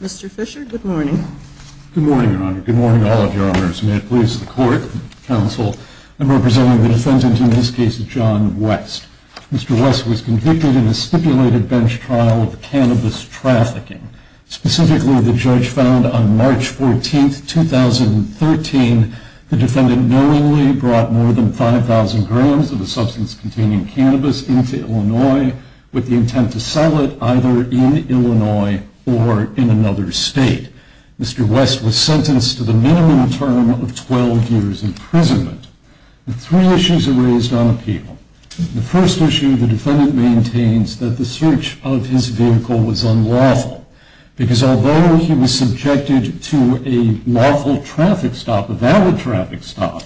Mr. Fisher, good morning. Good morning, Your Honor. Good morning to all of you, may it please the court, counsel, I'm representing the defendant in this case, John West. Mr. West was convicted in a stipulated bench trial of cannabis trafficking. Specifically, the judge found on March 14, 2013, the defendant knowingly brought more than 5,000 grams of a substance containing cannabis into Illinois with the intent to sell it either in Illinois or in another state. Mr. West was sentenced to the minimum term of 12 years imprisonment. Three issues are raised on appeal. The first issue, the defendant maintains that the search of his vehicle was unlawful. Because although he was subjected to a lawful traffic stop, a valid traffic stop,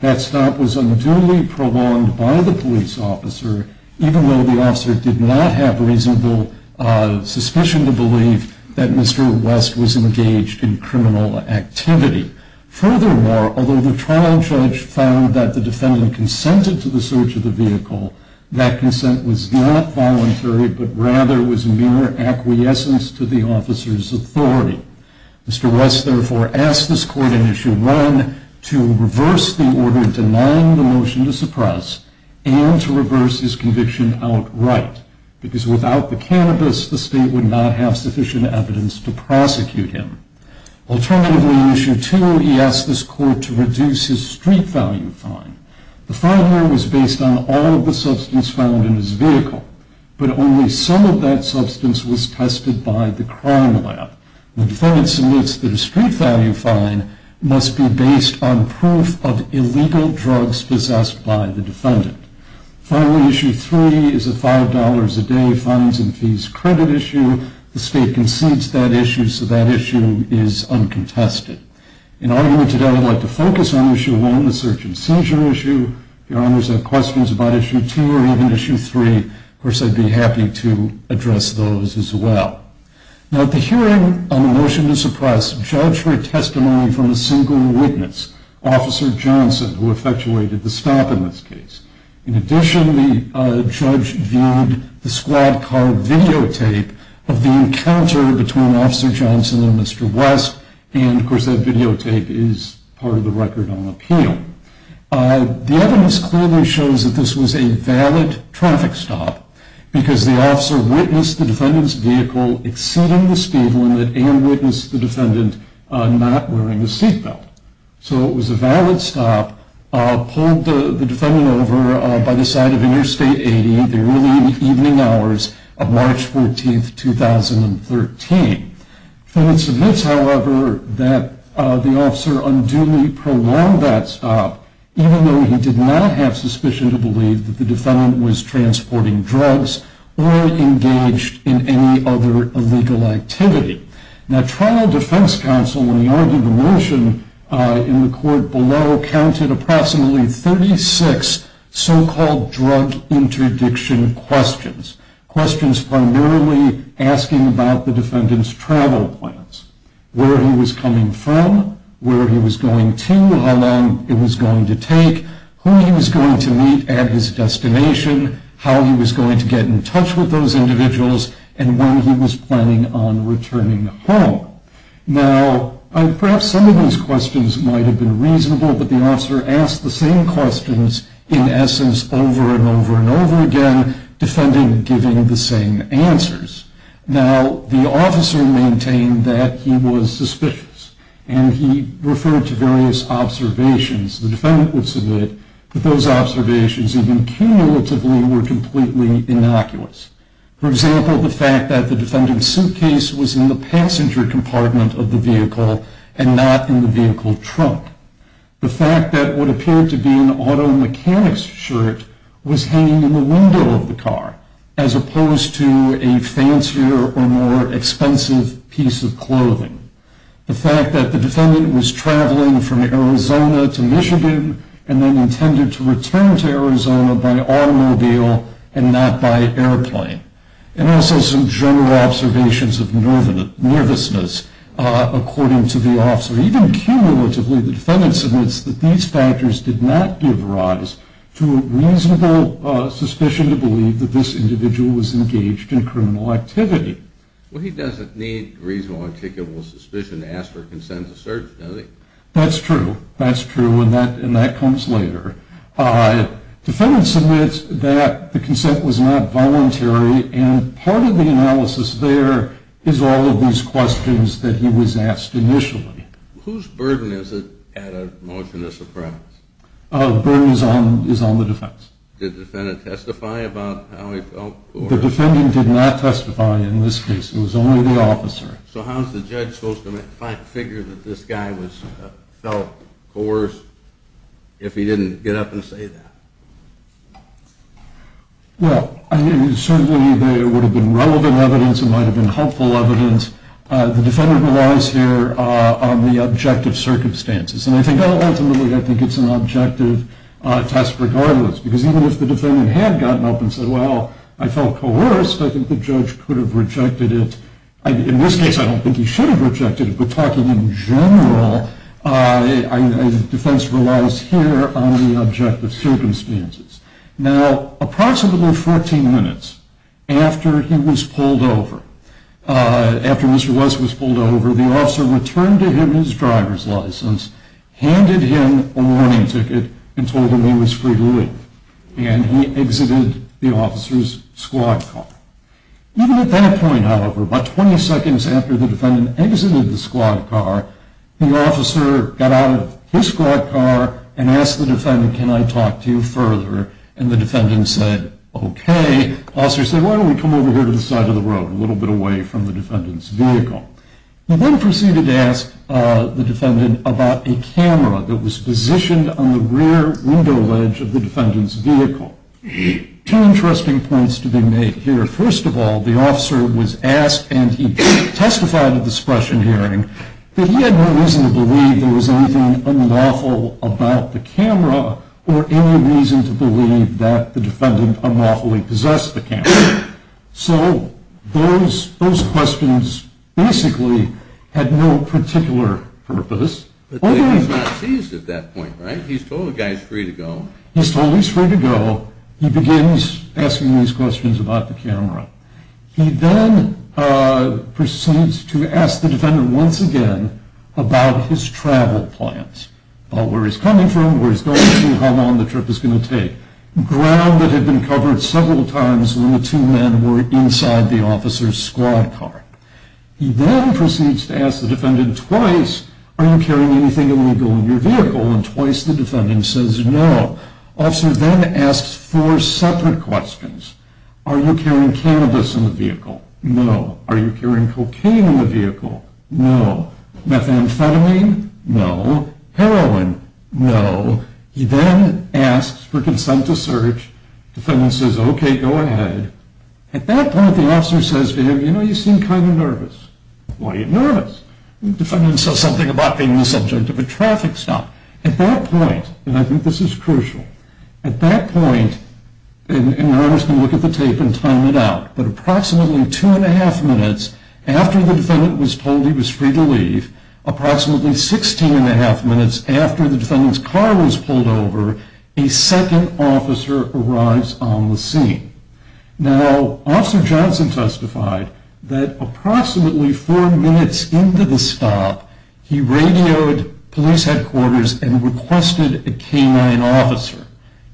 that stop was unduly prolonged by the police officer, even though the officer did not have reasonable suspicion to believe that Mr. West was engaged in criminal activity. Furthermore, although the trial judge found that the defendant consented to the search of the vehicle, that consent was not voluntary, but rather was mere acquiescence to the officer's authority. Mr. West therefore asked this court in issue one to reverse the order denying the motion to suppress and to reverse his conviction outright. Because without the cannabis, the state would not have sufficient evidence to prosecute him. Alternatively, in issue two, he asked this court to reduce his street value fine. The fine here was based on all of the substance found in his vehicle, but only some of that substance was tested by the crime lab. The defendant submits that a street value fine must be based on proof of illegal drugs possessed by the defendant. Finally, issue three is a $5 a day funds and fees credit issue. The state concedes that issue, so that issue is uncontested. In argument today, I would like to focus on issue one, the search and seizure issue. If your honors have questions about issue two or even issue three, of course I'd be happy to address those as well. Now at the hearing on the motion to suppress, judge heard testimony from a single witness, Officer Johnson, who effectuated the stop in this case. In addition, the judge viewed the squad car videotape of the encounter between Officer Johnson and Mr. West, and of course that videotape is part of the record on appeal. The evidence clearly shows that this was a valid traffic stop, because the officer witnessed the defendant's vehicle exceeding the speed limit and witnessed the defendant not wearing a seat belt. So it was a valid stop, pulled the defendant over by the side of Interstate 80, the early evening hours of March 14, 2013. The defense admits, however, that the officer unduly prolonged that stop, even though he did not have suspicion to believe that the defendant was transporting drugs or engaged in any other illegal activity. Now, trial defense counsel, when we argued the motion in the court below, counted approximately 36 so-called drug interdiction questions, questions primarily asking about the defendant's travel plans, where he was coming from, where he was going to, how long it was going to take, who he was going to meet at his destination, how he was going to get in touch with those individuals, and when he was planning on returning. Now, perhaps some of these questions might have been reasonable, but the officer asked the same questions in essence over and over and over again, defending giving the same answers. Now, the officer maintained that he was suspicious, and he referred to various observations. The defendant would submit that those observations, even cumulatively, were completely innocuous. For example, the fact that the defendant's suitcase was in the passenger compartment of the vehicle and not in the vehicle trunk. The fact that what appeared to be an auto mechanic's shirt was hanging in the window of the car, as opposed to a fancier or more expensive piece of clothing. The fact that the defendant was traveling from Arizona to Michigan and then intended to return to Arizona by automobile and not by airplane. And also some general observations of nervousness, according to the officer. Even cumulatively, the defendant submits that these factors did not give rise to a reasonable suspicion to believe that this individual was engaged in criminal activity. Well, he doesn't need reasonable or articulable suspicion to ask for consent to search, does he? That's true. That's true, and that comes later. Defendant submits that the consent was not voluntary, and part of the analysis there is all of these questions that he was asked initially. Whose burden is it at a motion of surprise? Burden is on the defense. Did the defendant testify about how he felt? The defendant did not testify in this case. It was only the officer. So how is the judge supposed to figure that this guy felt coerced if he didn't get up and say that? Well, I mean, certainly there would have been relevant evidence. It might have been helpful evidence. The defendant relies here on the objective circumstances, and ultimately I think it's an objective test regardless. Because even if the defendant had gotten up and said, well, I felt coerced, I think the judge could have rejected it. In this case, I don't think he should have rejected it, but talking in general, defense relies here on the objective circumstances. Now, approximately 14 minutes after he was pulled over, after Mr. West was pulled over, the officer returned to him his driver's license, handed him a warning ticket, and told him he was free to leave. And he exited the officer's squad car. Even at that point, however, about 20 seconds after the defendant exited the squad car, the officer got out of his squad car and asked the defendant, can I talk to you further? And the defendant said, OK. The officer said, why don't we come over here to the side of the road, a little bit away from the defendant's vehicle. He then proceeded to ask the defendant about a camera that was positioned on the rear window ledge of the defendant's vehicle. Two interesting points to be made here. First of all, the officer was asked, and he testified at the suppression hearing, that he had no reason to believe there was anything unlawful about the camera or any reason to believe that the defendant unlawfully possessed the camera. So those questions basically had no particular purpose. But the defendant's not seized at that point, right? He's told the guy he's free to go. He's told he's free to go. He begins asking these questions about the camera. He then proceeds to ask the defendant once again about his travel plans, about where he's coming from, where he's going to, how long the trip is going to take, ground that had been covered several times when the two men were inside the officer's squad car. He then proceeds to ask the defendant twice, are you carrying anything illegal in your vehicle? And twice the defendant says no. The officer then asks four separate questions. Are you carrying cannabis in the vehicle? No. Are you carrying cocaine in the vehicle? No. Methamphetamine? No. Heroin? No. He then asks for consent to search. The defendant says, okay, go ahead. At that point, the officer says to him, you know, you seem kind of nervous. Why are you nervous? The defendant says something about being the subject of a traffic stop. At that point, and I think this is crucial, at that point, and you're obviously going to look at the tape and time it out, but approximately two and a half minutes after the defendant was told he was free to leave, approximately 16 and a half minutes after the defendant's car was pulled over, a second officer arrives on the scene. Now, Officer Johnson testified that approximately four minutes into the stop, he radioed police headquarters and requested a canine officer.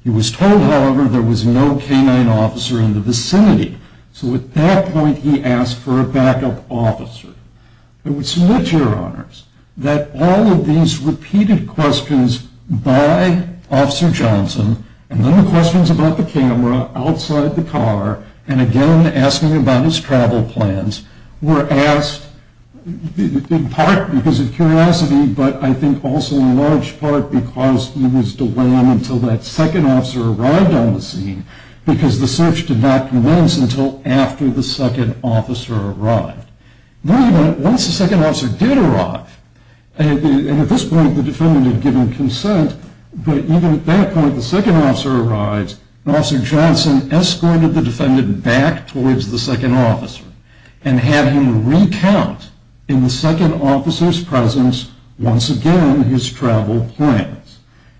He was told, however, there was no canine officer in the vicinity. So at that point, he asked for a backup officer. I would submit, Your Honors, that all of these repeated questions by Officer Johnson and then the questions about the camera outside the car and again asking about his travel plans were asked in part because of curiosity, but I think also in large part because there was delay until that second officer arrived on the scene because the search did not commence until after the second officer arrived. Not even once the second officer did arrive. And at this point, the defendant had given consent, but even at that point, the second officer arrives and Officer Johnson escorted the defendant back towards the second officer and had him recount in the second officer's presence once again his travel plans.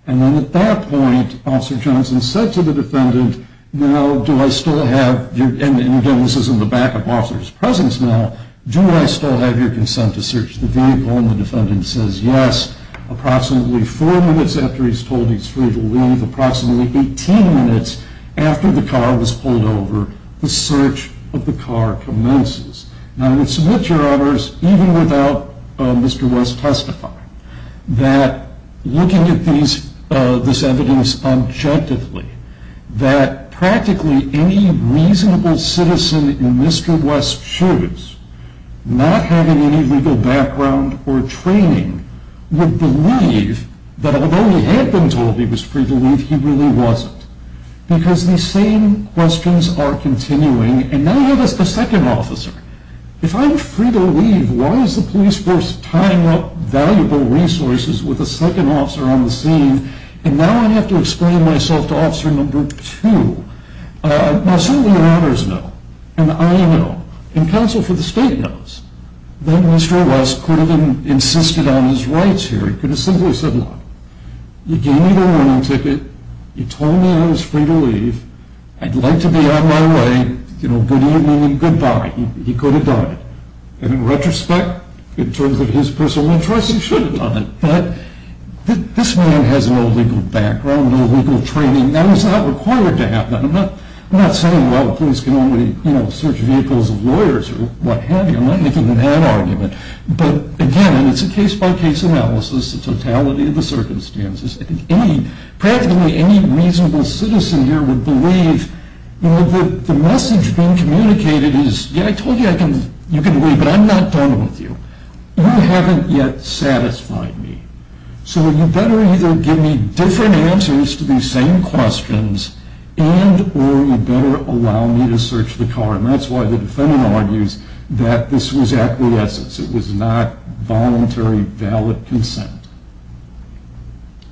And then at that point, Officer Johnson said to the defendant, Now, do I still have your, and again, this is in the backup officer's presence now, do I still have your consent to search the vehicle? And the defendant says yes. Approximately four minutes after he's told he's free to leave, approximately 18 minutes after the car was pulled over, the search of the car commences. Now, I would submit, Your Honors, even without Mr. West testifying, that looking at this evidence objectively, that practically any reasonable citizen in Mr. West's shoes, not having any legal background or training, would believe that although he had been told he was free to leave, he really wasn't. Because these same questions are continuing. And now I have a second officer. If I'm free to leave, why is the police force tying up valuable resources with a second officer on the scene? And now I have to explain myself to Officer No. 2. Now, certainly Your Honors know, and I know, and counsel for the state knows, that Mr. West could have insisted on his rights here. He could have simply said, look, you gave me the warning ticket, you told me I was free to leave, I'd like to be on my way, you know, good evening and goodbye. He could have done it. And in retrospect, in terms of his personal choice, he should have done it. But this man has no legal background, no legal training. That was not required to happen. I'm not saying, well, police can only search vehicles of lawyers or what have you. I'm not making that argument. But, again, it's a case-by-case analysis, the totality of the circumstances. Practically any reasonable citizen here would believe, you know, the message being communicated is, yeah, I told you I can leave, but I'm not done with you. You haven't yet satisfied me. So you better either give me different answers to these same questions and or you better allow me to search the car. And that's why the defendant argues that this was acquiescence. It was not voluntary, valid consent.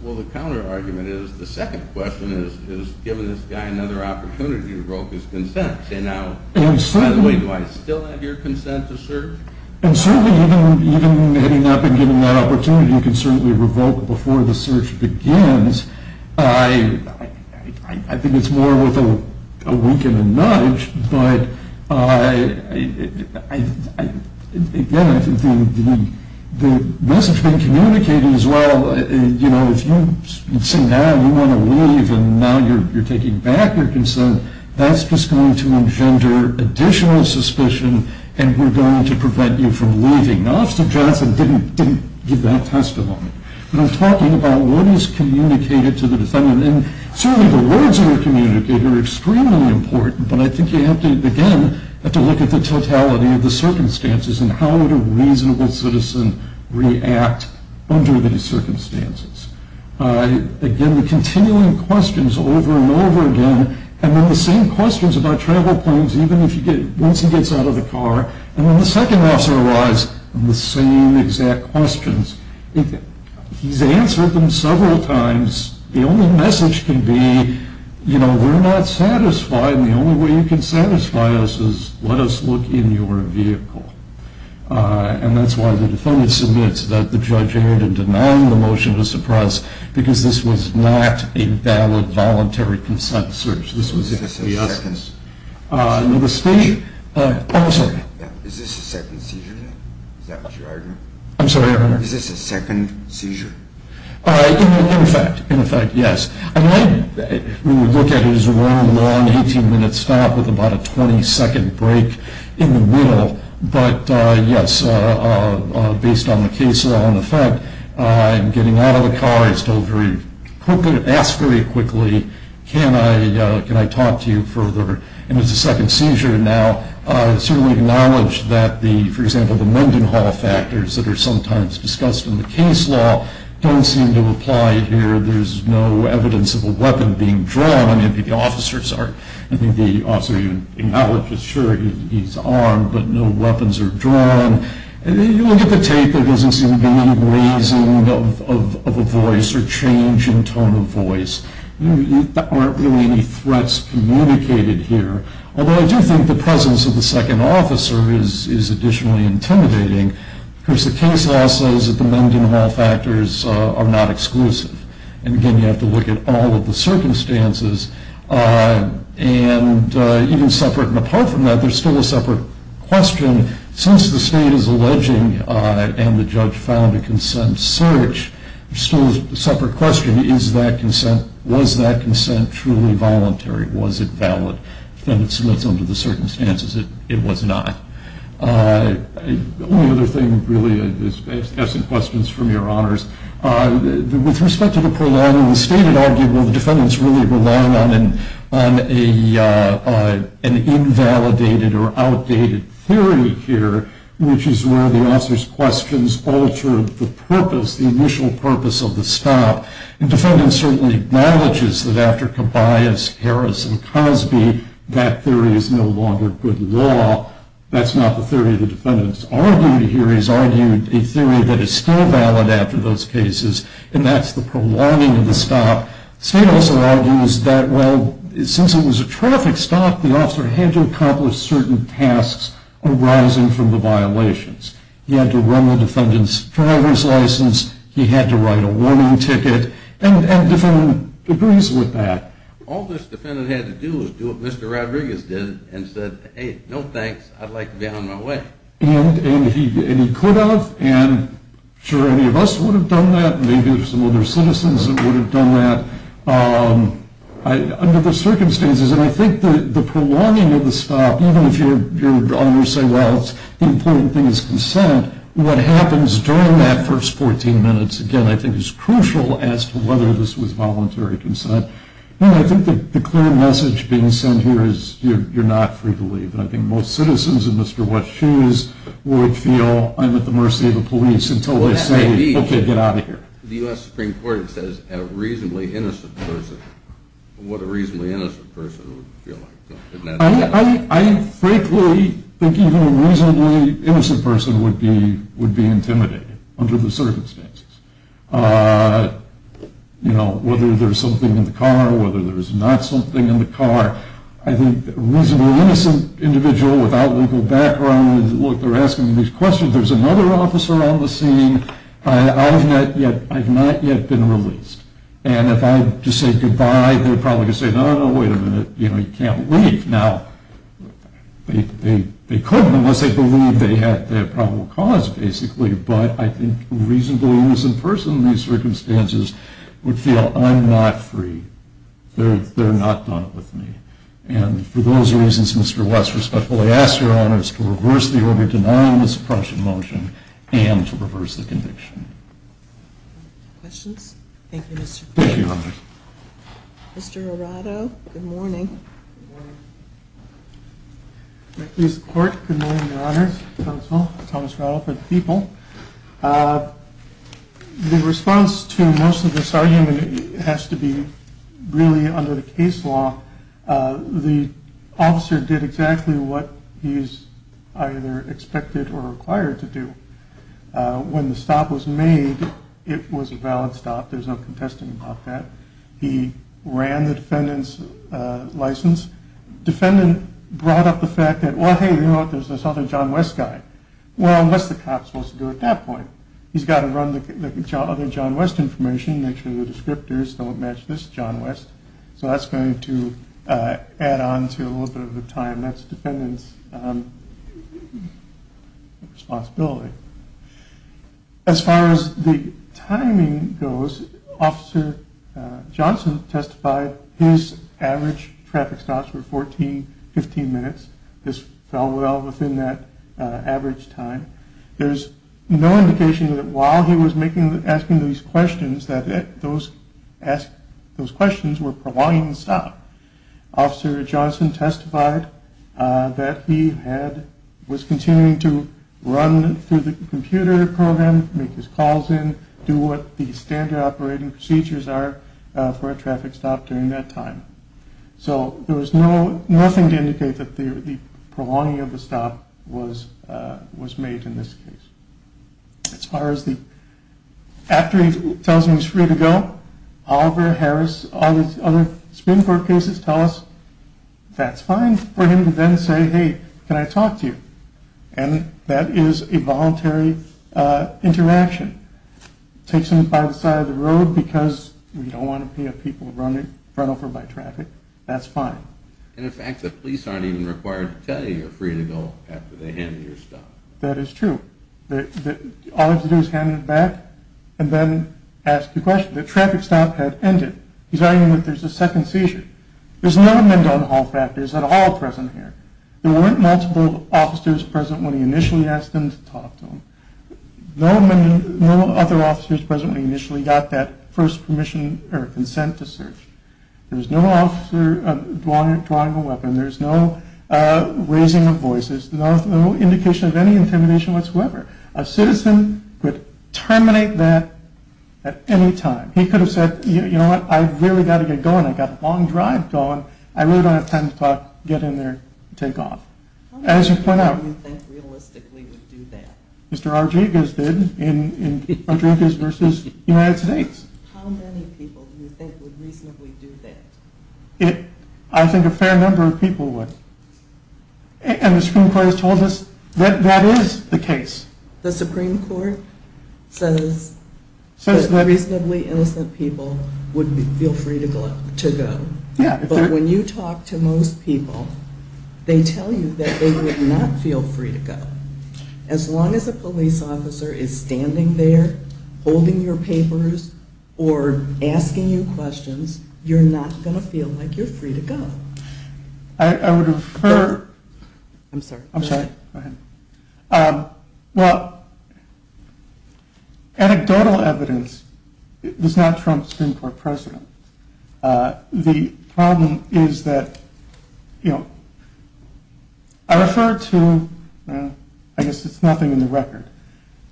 Well, the counter-argument is the second question is, given this guy another opportunity to grow his consent. Say, now, by the way, do I still have your consent to search? And certainly, even having not been given that opportunity, you can certainly revoke before the search begins. I think it's more with a wink and a nudge. But, again, I think the message being communicated is, well, you know, if you say now you want to leave and now you're taking back your consent, that's just going to engender additional suspicion and we're going to prevent you from leaving. Officer Johnson didn't give that testimony. But I'm talking about what is communicated to the defendant. And certainly the words that are communicated are extremely important, but I think you have to, again, have to look at the totality of the circumstances and how would a reasonable citizen react under these circumstances. Again, the continuing questions over and over again, and then the same questions about travel plans, even once he gets out of the car. And when the second officer arrives, the same exact questions. He's answered them several times. The only message can be, you know, we're not satisfied and the only way you can satisfy us is let us look in your vehicle. And that's why the defendant submits that the judge erred in denying the motion to suppress because this was not a valid voluntary consent search. This was the officer. Is this a second seizure? Oh, I'm sorry. Is this a second seizure? Is that what you're arguing? I'm sorry, Your Honor. Is this a second seizure? In effect, in effect, yes. I mean, we would look at it as a long, long 18-minute stop with about a 20-second break in the middle. But, yes, based on the case law and the fact I'm getting out of the car, I was told very quickly, asked very quickly, can I talk to you further? And it's a second seizure now. It's certainly acknowledged that the, for example, the Mendenhall factors that are sometimes discussed in the case law don't seem to apply here. There's no evidence of a weapon being drawn. I mean, the officers are, I think the officer even acknowledges, sure, he's armed, but no weapons are drawn. You look at the tape, there doesn't seem to be any raising of a voice or change in tone of voice. There aren't really any threats communicated here. Although I do think the presence of the second officer is additionally intimidating. Of course, the case law says that the Mendenhall factors are not exclusive. And, again, you have to look at all of the circumstances. And even separate and apart from that, there's still a separate question. Since the state is alleging and the judge found a consent search, there's still a separate question. Is that consent, was that consent truly voluntary? Was it valid? If the defendant submits under the circumstances, it was not. The only other thing, really, I have some questions from your honors. With respect to the prolonging, the state had argued, well, the defendant's really relying on an invalidated or outdated theory here, which is where the officer's questions alter the purpose, the initial purpose of the stop. And the defendant certainly acknowledges that after Cabayas, Harris, and Cosby, that theory is no longer good law. That's not the theory the defendant's argued here. He's argued a theory that is still valid after those cases, and that's the prolonging of the stop. The state also argues that, well, since it was a traffic stop, the officer had to accomplish certain tasks arising from the violations. He had to run the defendant's driver's license. He had to write a warning ticket. And the defendant agrees with that. All this defendant had to do was do what Mr. Rodriguez did and said, hey, no thanks, I'd like to be on my way. And he could have, and I'm sure any of us would have done that. Maybe some other citizens would have done that. Under the circumstances, and I think the prolonging of the stop, even if your honors say, well, the important thing is consent, what happens during that first 14 minutes, again, I think is crucial as to whether this was voluntary consent. I think the clear message being sent here is you're not free to leave. And I think most citizens in Mr. West's shoes would feel I'm at the mercy of the police until they say, okay, get out of here. The U.S. Supreme Court says a reasonably innocent person. What a reasonably innocent person would feel like. I frankly think even a reasonably innocent person would be intimidated under the circumstances. Whether there's something in the car, whether there's not something in the car, I think a reasonably innocent individual without legal background, look, they're asking me these questions, there's another officer on the scene, I've not yet been released. And if I just say goodbye, they're probably going to say, no, no, no, wait a minute, you can't leave. Now, they couldn't unless they believed they had their probable cause, basically, but I think a reasonably innocent person in these circumstances would feel I'm not free. They're not done with me. And for those reasons, Mr. West respectfully asks Your Honors to reverse the order denying this appropriate motion and to reverse the conviction. Questions? Thank you, Mr. Court. Thank you, Your Honors. Mr. Arado, good morning. Thank you, Mr. Court. Good morning, Your Honors, counsel, Thomas Arado for the people. The response to most of this argument has to be really under the case law. The officer did exactly what he's either expected or required to do. When the stop was made, it was a valid stop. There's no contesting about that. He ran the defendant's license. Defendant brought up the fact that, well, hey, you know what, there's this other John West guy. Well, what's the cop supposed to do at that point? He's got to run the other John West information, make sure the descriptors don't match this John West. So that's going to add on to a little bit of the time. That's the defendant's responsibility. As far as the timing goes, Officer Johnson testified his average traffic stops were 14, 15 minutes. This fell well within that average time. There's no indication that while he was asking these questions that those questions were prolonging the stop. Officer Johnson testified that he was continuing to run through the computer program, make his calls in, do what the standard operating procedures are for a traffic stop during that time. So there was nothing to indicate that the prolonging of the stop was made in this case. After he tells him he's free to go, Oliver, Harris, all these other Supreme Court cases tell us that's fine for him to then say, hey, can I talk to you? And that is a voluntary interaction. Takes him by the side of the road because we don't want to have people run over by traffic. That's fine. And in fact, the police aren't even required to tell you you're free to go after they hand you your stop. That is true. All they have to do is hand it back and then ask the question. The traffic stop had ended. He's arguing that there's a second seizure. There's no amendment on Hall factors at all present here. There weren't multiple officers present when he initially asked them to talk to him. No other officers present when he initially got that first permission or consent to search. There was no officer drawing a weapon. There was no raising of voices, no indication of any intimidation whatsoever. A citizen could terminate that at any time. He could have said, you know what, I've really got to get going. I've got a long drive going. I really don't have time to talk. Get in there and take off. How many people do you think realistically would do that? Mr. Rodriguez did in Rodriguez v. United States. How many people do you think would reasonably do that? I think a fair number of people would. And the Supreme Court has told us that that is the case. The Supreme Court says that reasonably innocent people would feel free to go. But when you talk to most people, they tell you that they would not feel free to go. As long as a police officer is standing there holding your papers or asking you questions, you're not going to feel like you're free to go. I would refer... I'm sorry. I'm sorry. Go ahead. Well, anecdotal evidence does not trump Supreme Court precedent. The problem is that, you know, I refer to... I guess it's nothing in the record.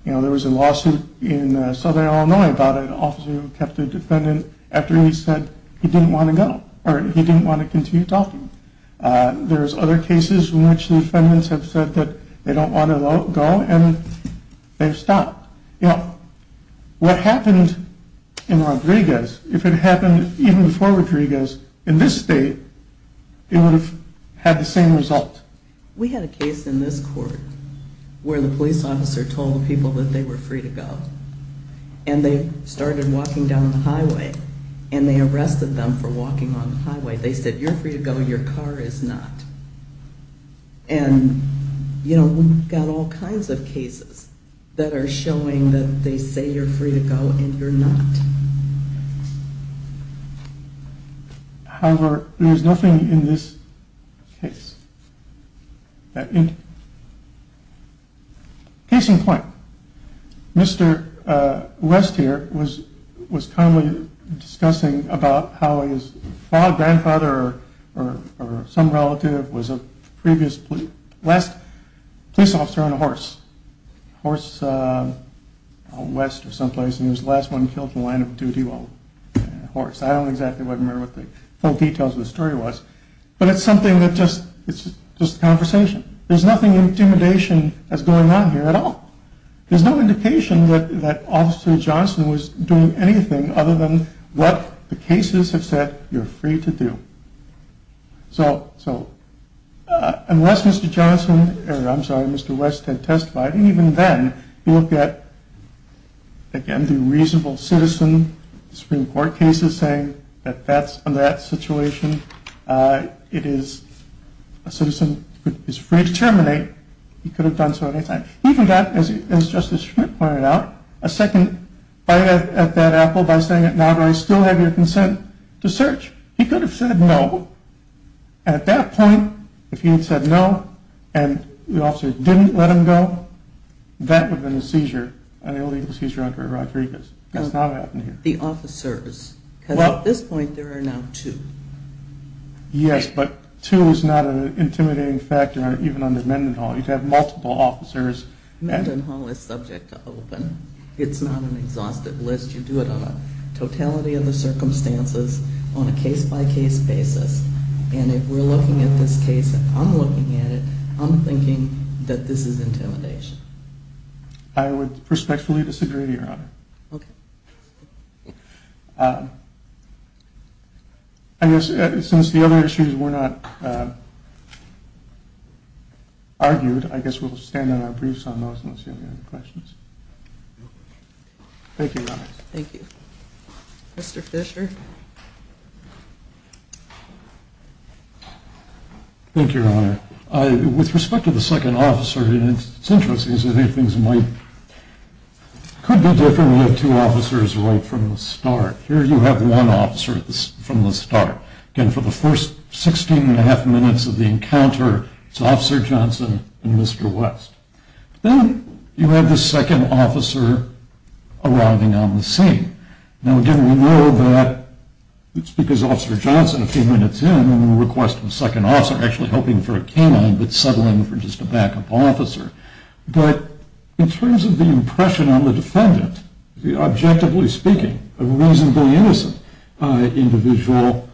You know, there was a lawsuit in southern Illinois about an officer who kept a defendant after he said he didn't want to go or he didn't want to continue talking. There's other cases in which the defendants have said that they don't want to go, and they've stopped. You know, what happened in Rodriguez, if it happened even before Rodriguez in this state, it would have had the same result. We had a case in this court where the police officer told the people that they were free to go, and they started walking down the highway, and they arrested them for walking on the highway. They said, You're free to go. Your car is not. And, you know, we've got all kinds of cases that are showing that they say you're free to go, and you're not. However, there's nothing in this case that indicates that. Case in point. Mr. West here was kindly discussing about how his father, grandfather, or some relative was the last police officer on a horse. A horse out west of someplace, and he was the last one killed in the land of duty on a horse. I don't exactly remember what the full details of the story was, but it's something that's just a conversation. There's nothing intimidation that's going on here at all. There's no indication that Officer Johnson was doing anything other than what the cases have said, You're free to do. So, unless Mr. West had testified, and even then, you look at, again, the reasonable citizen, Supreme Court cases saying that that's, in that situation, it is, a citizen is free to terminate. He could have done so at any time. Even that, as Justice Schmidt pointed out, a second bite at that apple by saying, Now do I still have your consent to search? He could have said no. At that point, if he had said no, and the officer didn't let him go, that would have been a seizure, an illegal seizure under Rodriguez. That's not what happened here. The officers, because at this point, there are now two. Yes, but two is not an intimidating factor, even under Mendenhall. You'd have multiple officers. Mendenhall is subject to open. It's not an exhaustive list. You do it on a totality of the circumstances, on a case-by-case basis, and if we're looking at this case, and I'm looking at it, I'm thinking that this is intimidation. I would respectfully disagree, Your Honor. Okay. I guess since the other issues were not argued, I guess we'll stand on our briefs on those unless you have any other questions. Thank you, Your Honor. Thank you. Mr. Fisher. Thank you, Your Honor. With respect to the second officer, it's interesting because I think things might could be different with two officers right from the start. Here you have one officer from the start. Again, for the first 16 and a half minutes of the encounter, it's Officer Johnson and Mr. West. Then you have the second officer arriving on the scene. Now, again, we know that it's because Officer Johnson, a few minutes in, requested a second officer, actually hoping for a K-9, but settling for just a backup officer. But in terms of the impression on the defendant, objectively speaking, a reasonably innocent individual,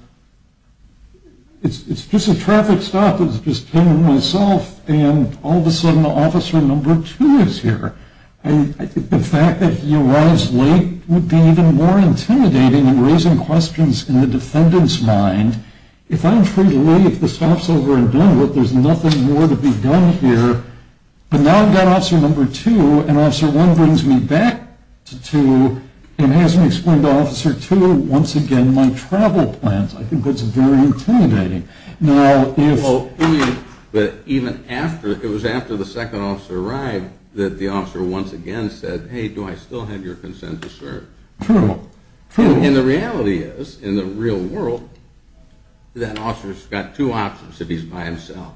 it's just a traffic stop that's just him and myself, and all of a sudden Officer No. 2 is here. The fact that he arrives late would be even more intimidating in raising questions in the defendant's mind. If I'm free to leave, the stop's over and done with, there's nothing more to be done here. But now I've got Officer No. 2, and Officer 1 brings me back to Officer 2 and has me explain to Officer 2, once again, my travel plans. I think that's very intimidating. Now, if... But even after, it was after the second officer arrived that the officer once again said, hey, do I still have your consent to serve? True, true. And the reality is, in the real world, that officer's got two options if he's by himself.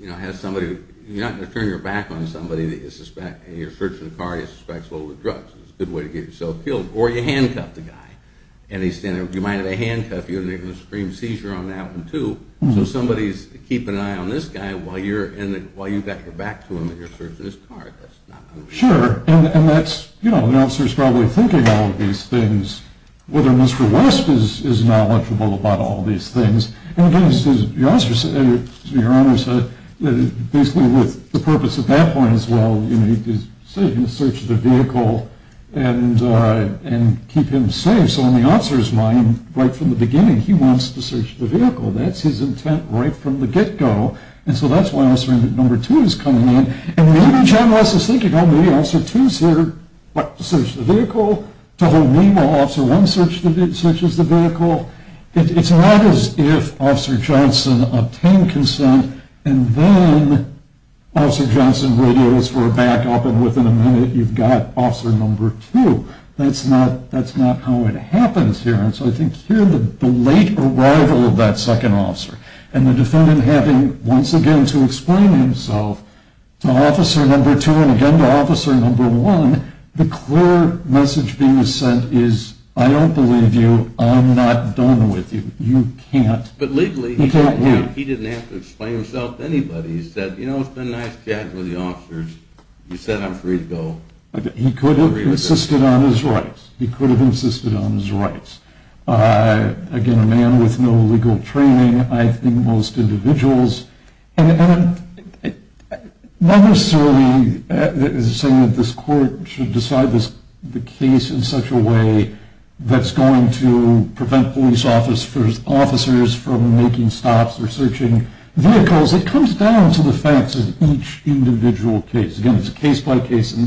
You know, you're not going to turn your back on somebody that you suspect, and you're searching a car that he suspects loaded with drugs. It's a good way to get yourself killed. Or you handcuff the guy, and you might have to handcuff him, you're going to make him scream seizure on that one, too. So somebody's keeping an eye on this guy while you've got your back to him and you're searching his car. Sure. And that's, you know, the officer's probably thinking all of these things, whether Mr. West is knowledgeable about all these things. And, again, your officer said, your honor said, basically with the purpose at that point as well, you know, he said he's going to search the vehicle and keep him safe. So in the officer's mind, right from the beginning, he wants to search the vehicle. That's his intent right from the get-go. And so that's why Officer No. 2 is coming in. And maybe John West is thinking, oh, maybe Officer 2 is here to search the vehicle, to hold me while Officer 1 searches the vehicle. It's not as if Officer Johnson obtained consent, and then Officer Johnson radioed us for a backup, and within a minute you've got Officer No. 2. That's not how it happens here. And so I think here the late arrival of that second officer, and the defendant having once again to explain himself to Officer No. 2 and again to Officer No. 1, the clear message being sent is, I don't believe you. I'm not done with you. You can't. But legally he didn't have to explain himself to anybody. He said, you know, it's been a nice chat with the officers. He said I'm free to go. He could have insisted on his rights. He could have insisted on his rights. Again, a man with no legal training, I think most individuals. And not necessarily saying that this court should decide the case in such a way that's going to prevent police officers from making stops or searching vehicles. It comes down to the facts of each individual case. Again, it's a case-by-case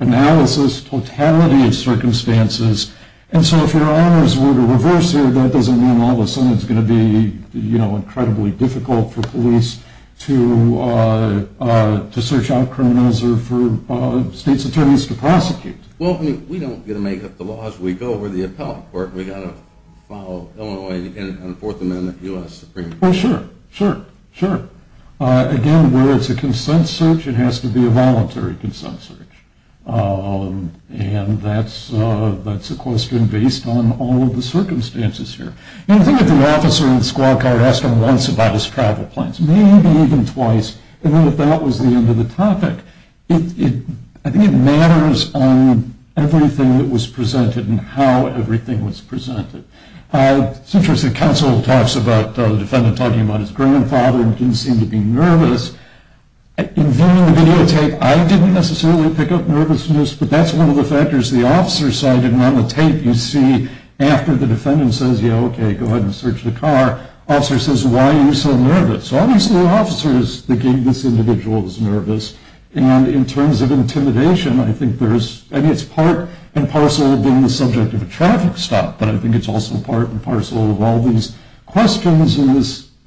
analysis, totality of circumstances. And so if your honors were to reverse here, that doesn't mean all of a sudden it's going to be, you know, incredibly difficult for police to search out criminals or for state's attorneys to prosecute. Well, I mean, we don't get to make up the laws. We go where the appellate court. We've got to follow Illinois and Fourth Amendment, U.S. Supreme Court. Well, sure, sure, sure. Again, where it's a consent search, it has to be a voluntary consent search. And that's a question based on all of the circumstances here. I think if the officer in the squad car asked him once about his travel plans, maybe even twice, and then if that was the end of the topic, I think it matters on everything that was presented and how everything was presented. It's interesting, counsel talks about the defendant talking about his grandfather and didn't seem to be nervous. In viewing the videotape, I didn't necessarily pick up nervousness, but that's one of the factors the officer cited. And on the tape, you see after the defendant says, yeah, okay, go ahead and search the car, the officer says, why are you so nervous? So obviously the officer is thinking this individual is nervous. And in terms of intimidation, I think there's, I mean, it's part and parcel of being the subject of a traffic stop, but I think it's also part and parcel of all these questions and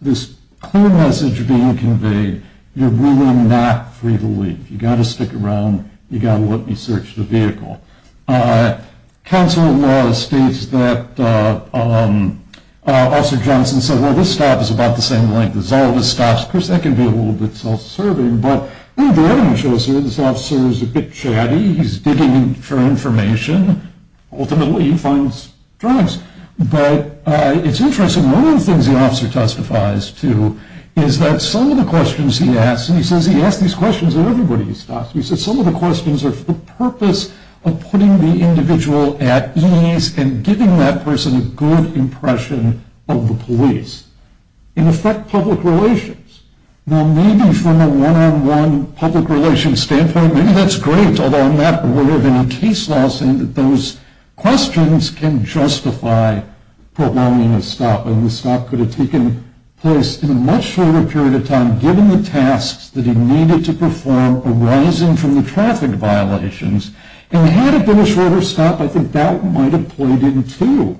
this clear message being conveyed, you're really not free to leave. You've got to stick around. You've got to let me search the vehicle. Counsel in law states that Officer Johnson said, well, this stop is about the same length as all of the stops. Of course, that can be a little bit self-serving, but the evidence shows this officer is a bit chatty. He's digging for information. Ultimately, he finds drugs. But it's interesting. One of the things the officer testifies to is that some of the questions he asks, and he says he asks these questions at everybody he stops. He says some of the questions are for the purpose of putting the individual at ease and giving that person a good impression of the police. In effect, public relations. Now, maybe from a one-on-one public relations standpoint, maybe that's great, although I'm not aware of any case law saying that those questions can justify prolonging a stop, and the stop could have taken place in a much shorter period of time, given the tasks that he needed to perform arising from the traffic violations. And had it been a shorter stop, I think that might have played into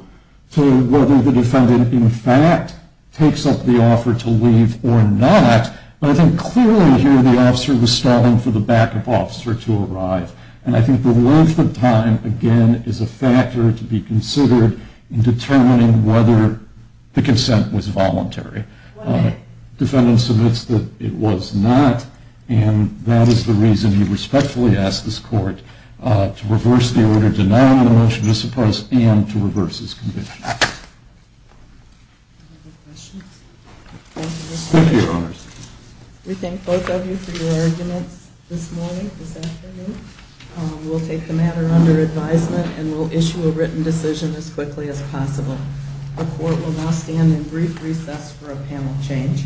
whether the defendant, in fact, takes up the offer to leave or not. But I think clearly here the officer was stalling for the backup officer to arrive, and I think the length of time, again, is a factor to be considered in determining whether the consent was voluntary. The defendant submits that it was not, and that is the reason he respectfully asks this court to reverse the order denying the motion to suppress and to reverse his conviction. Any other questions? Thank you, Your Honors. We thank both of you for your arguments this morning, this afternoon. We'll take the matter under advisement, and we'll issue a written decision as quickly as possible. The court will now stand in brief recess for a panel change.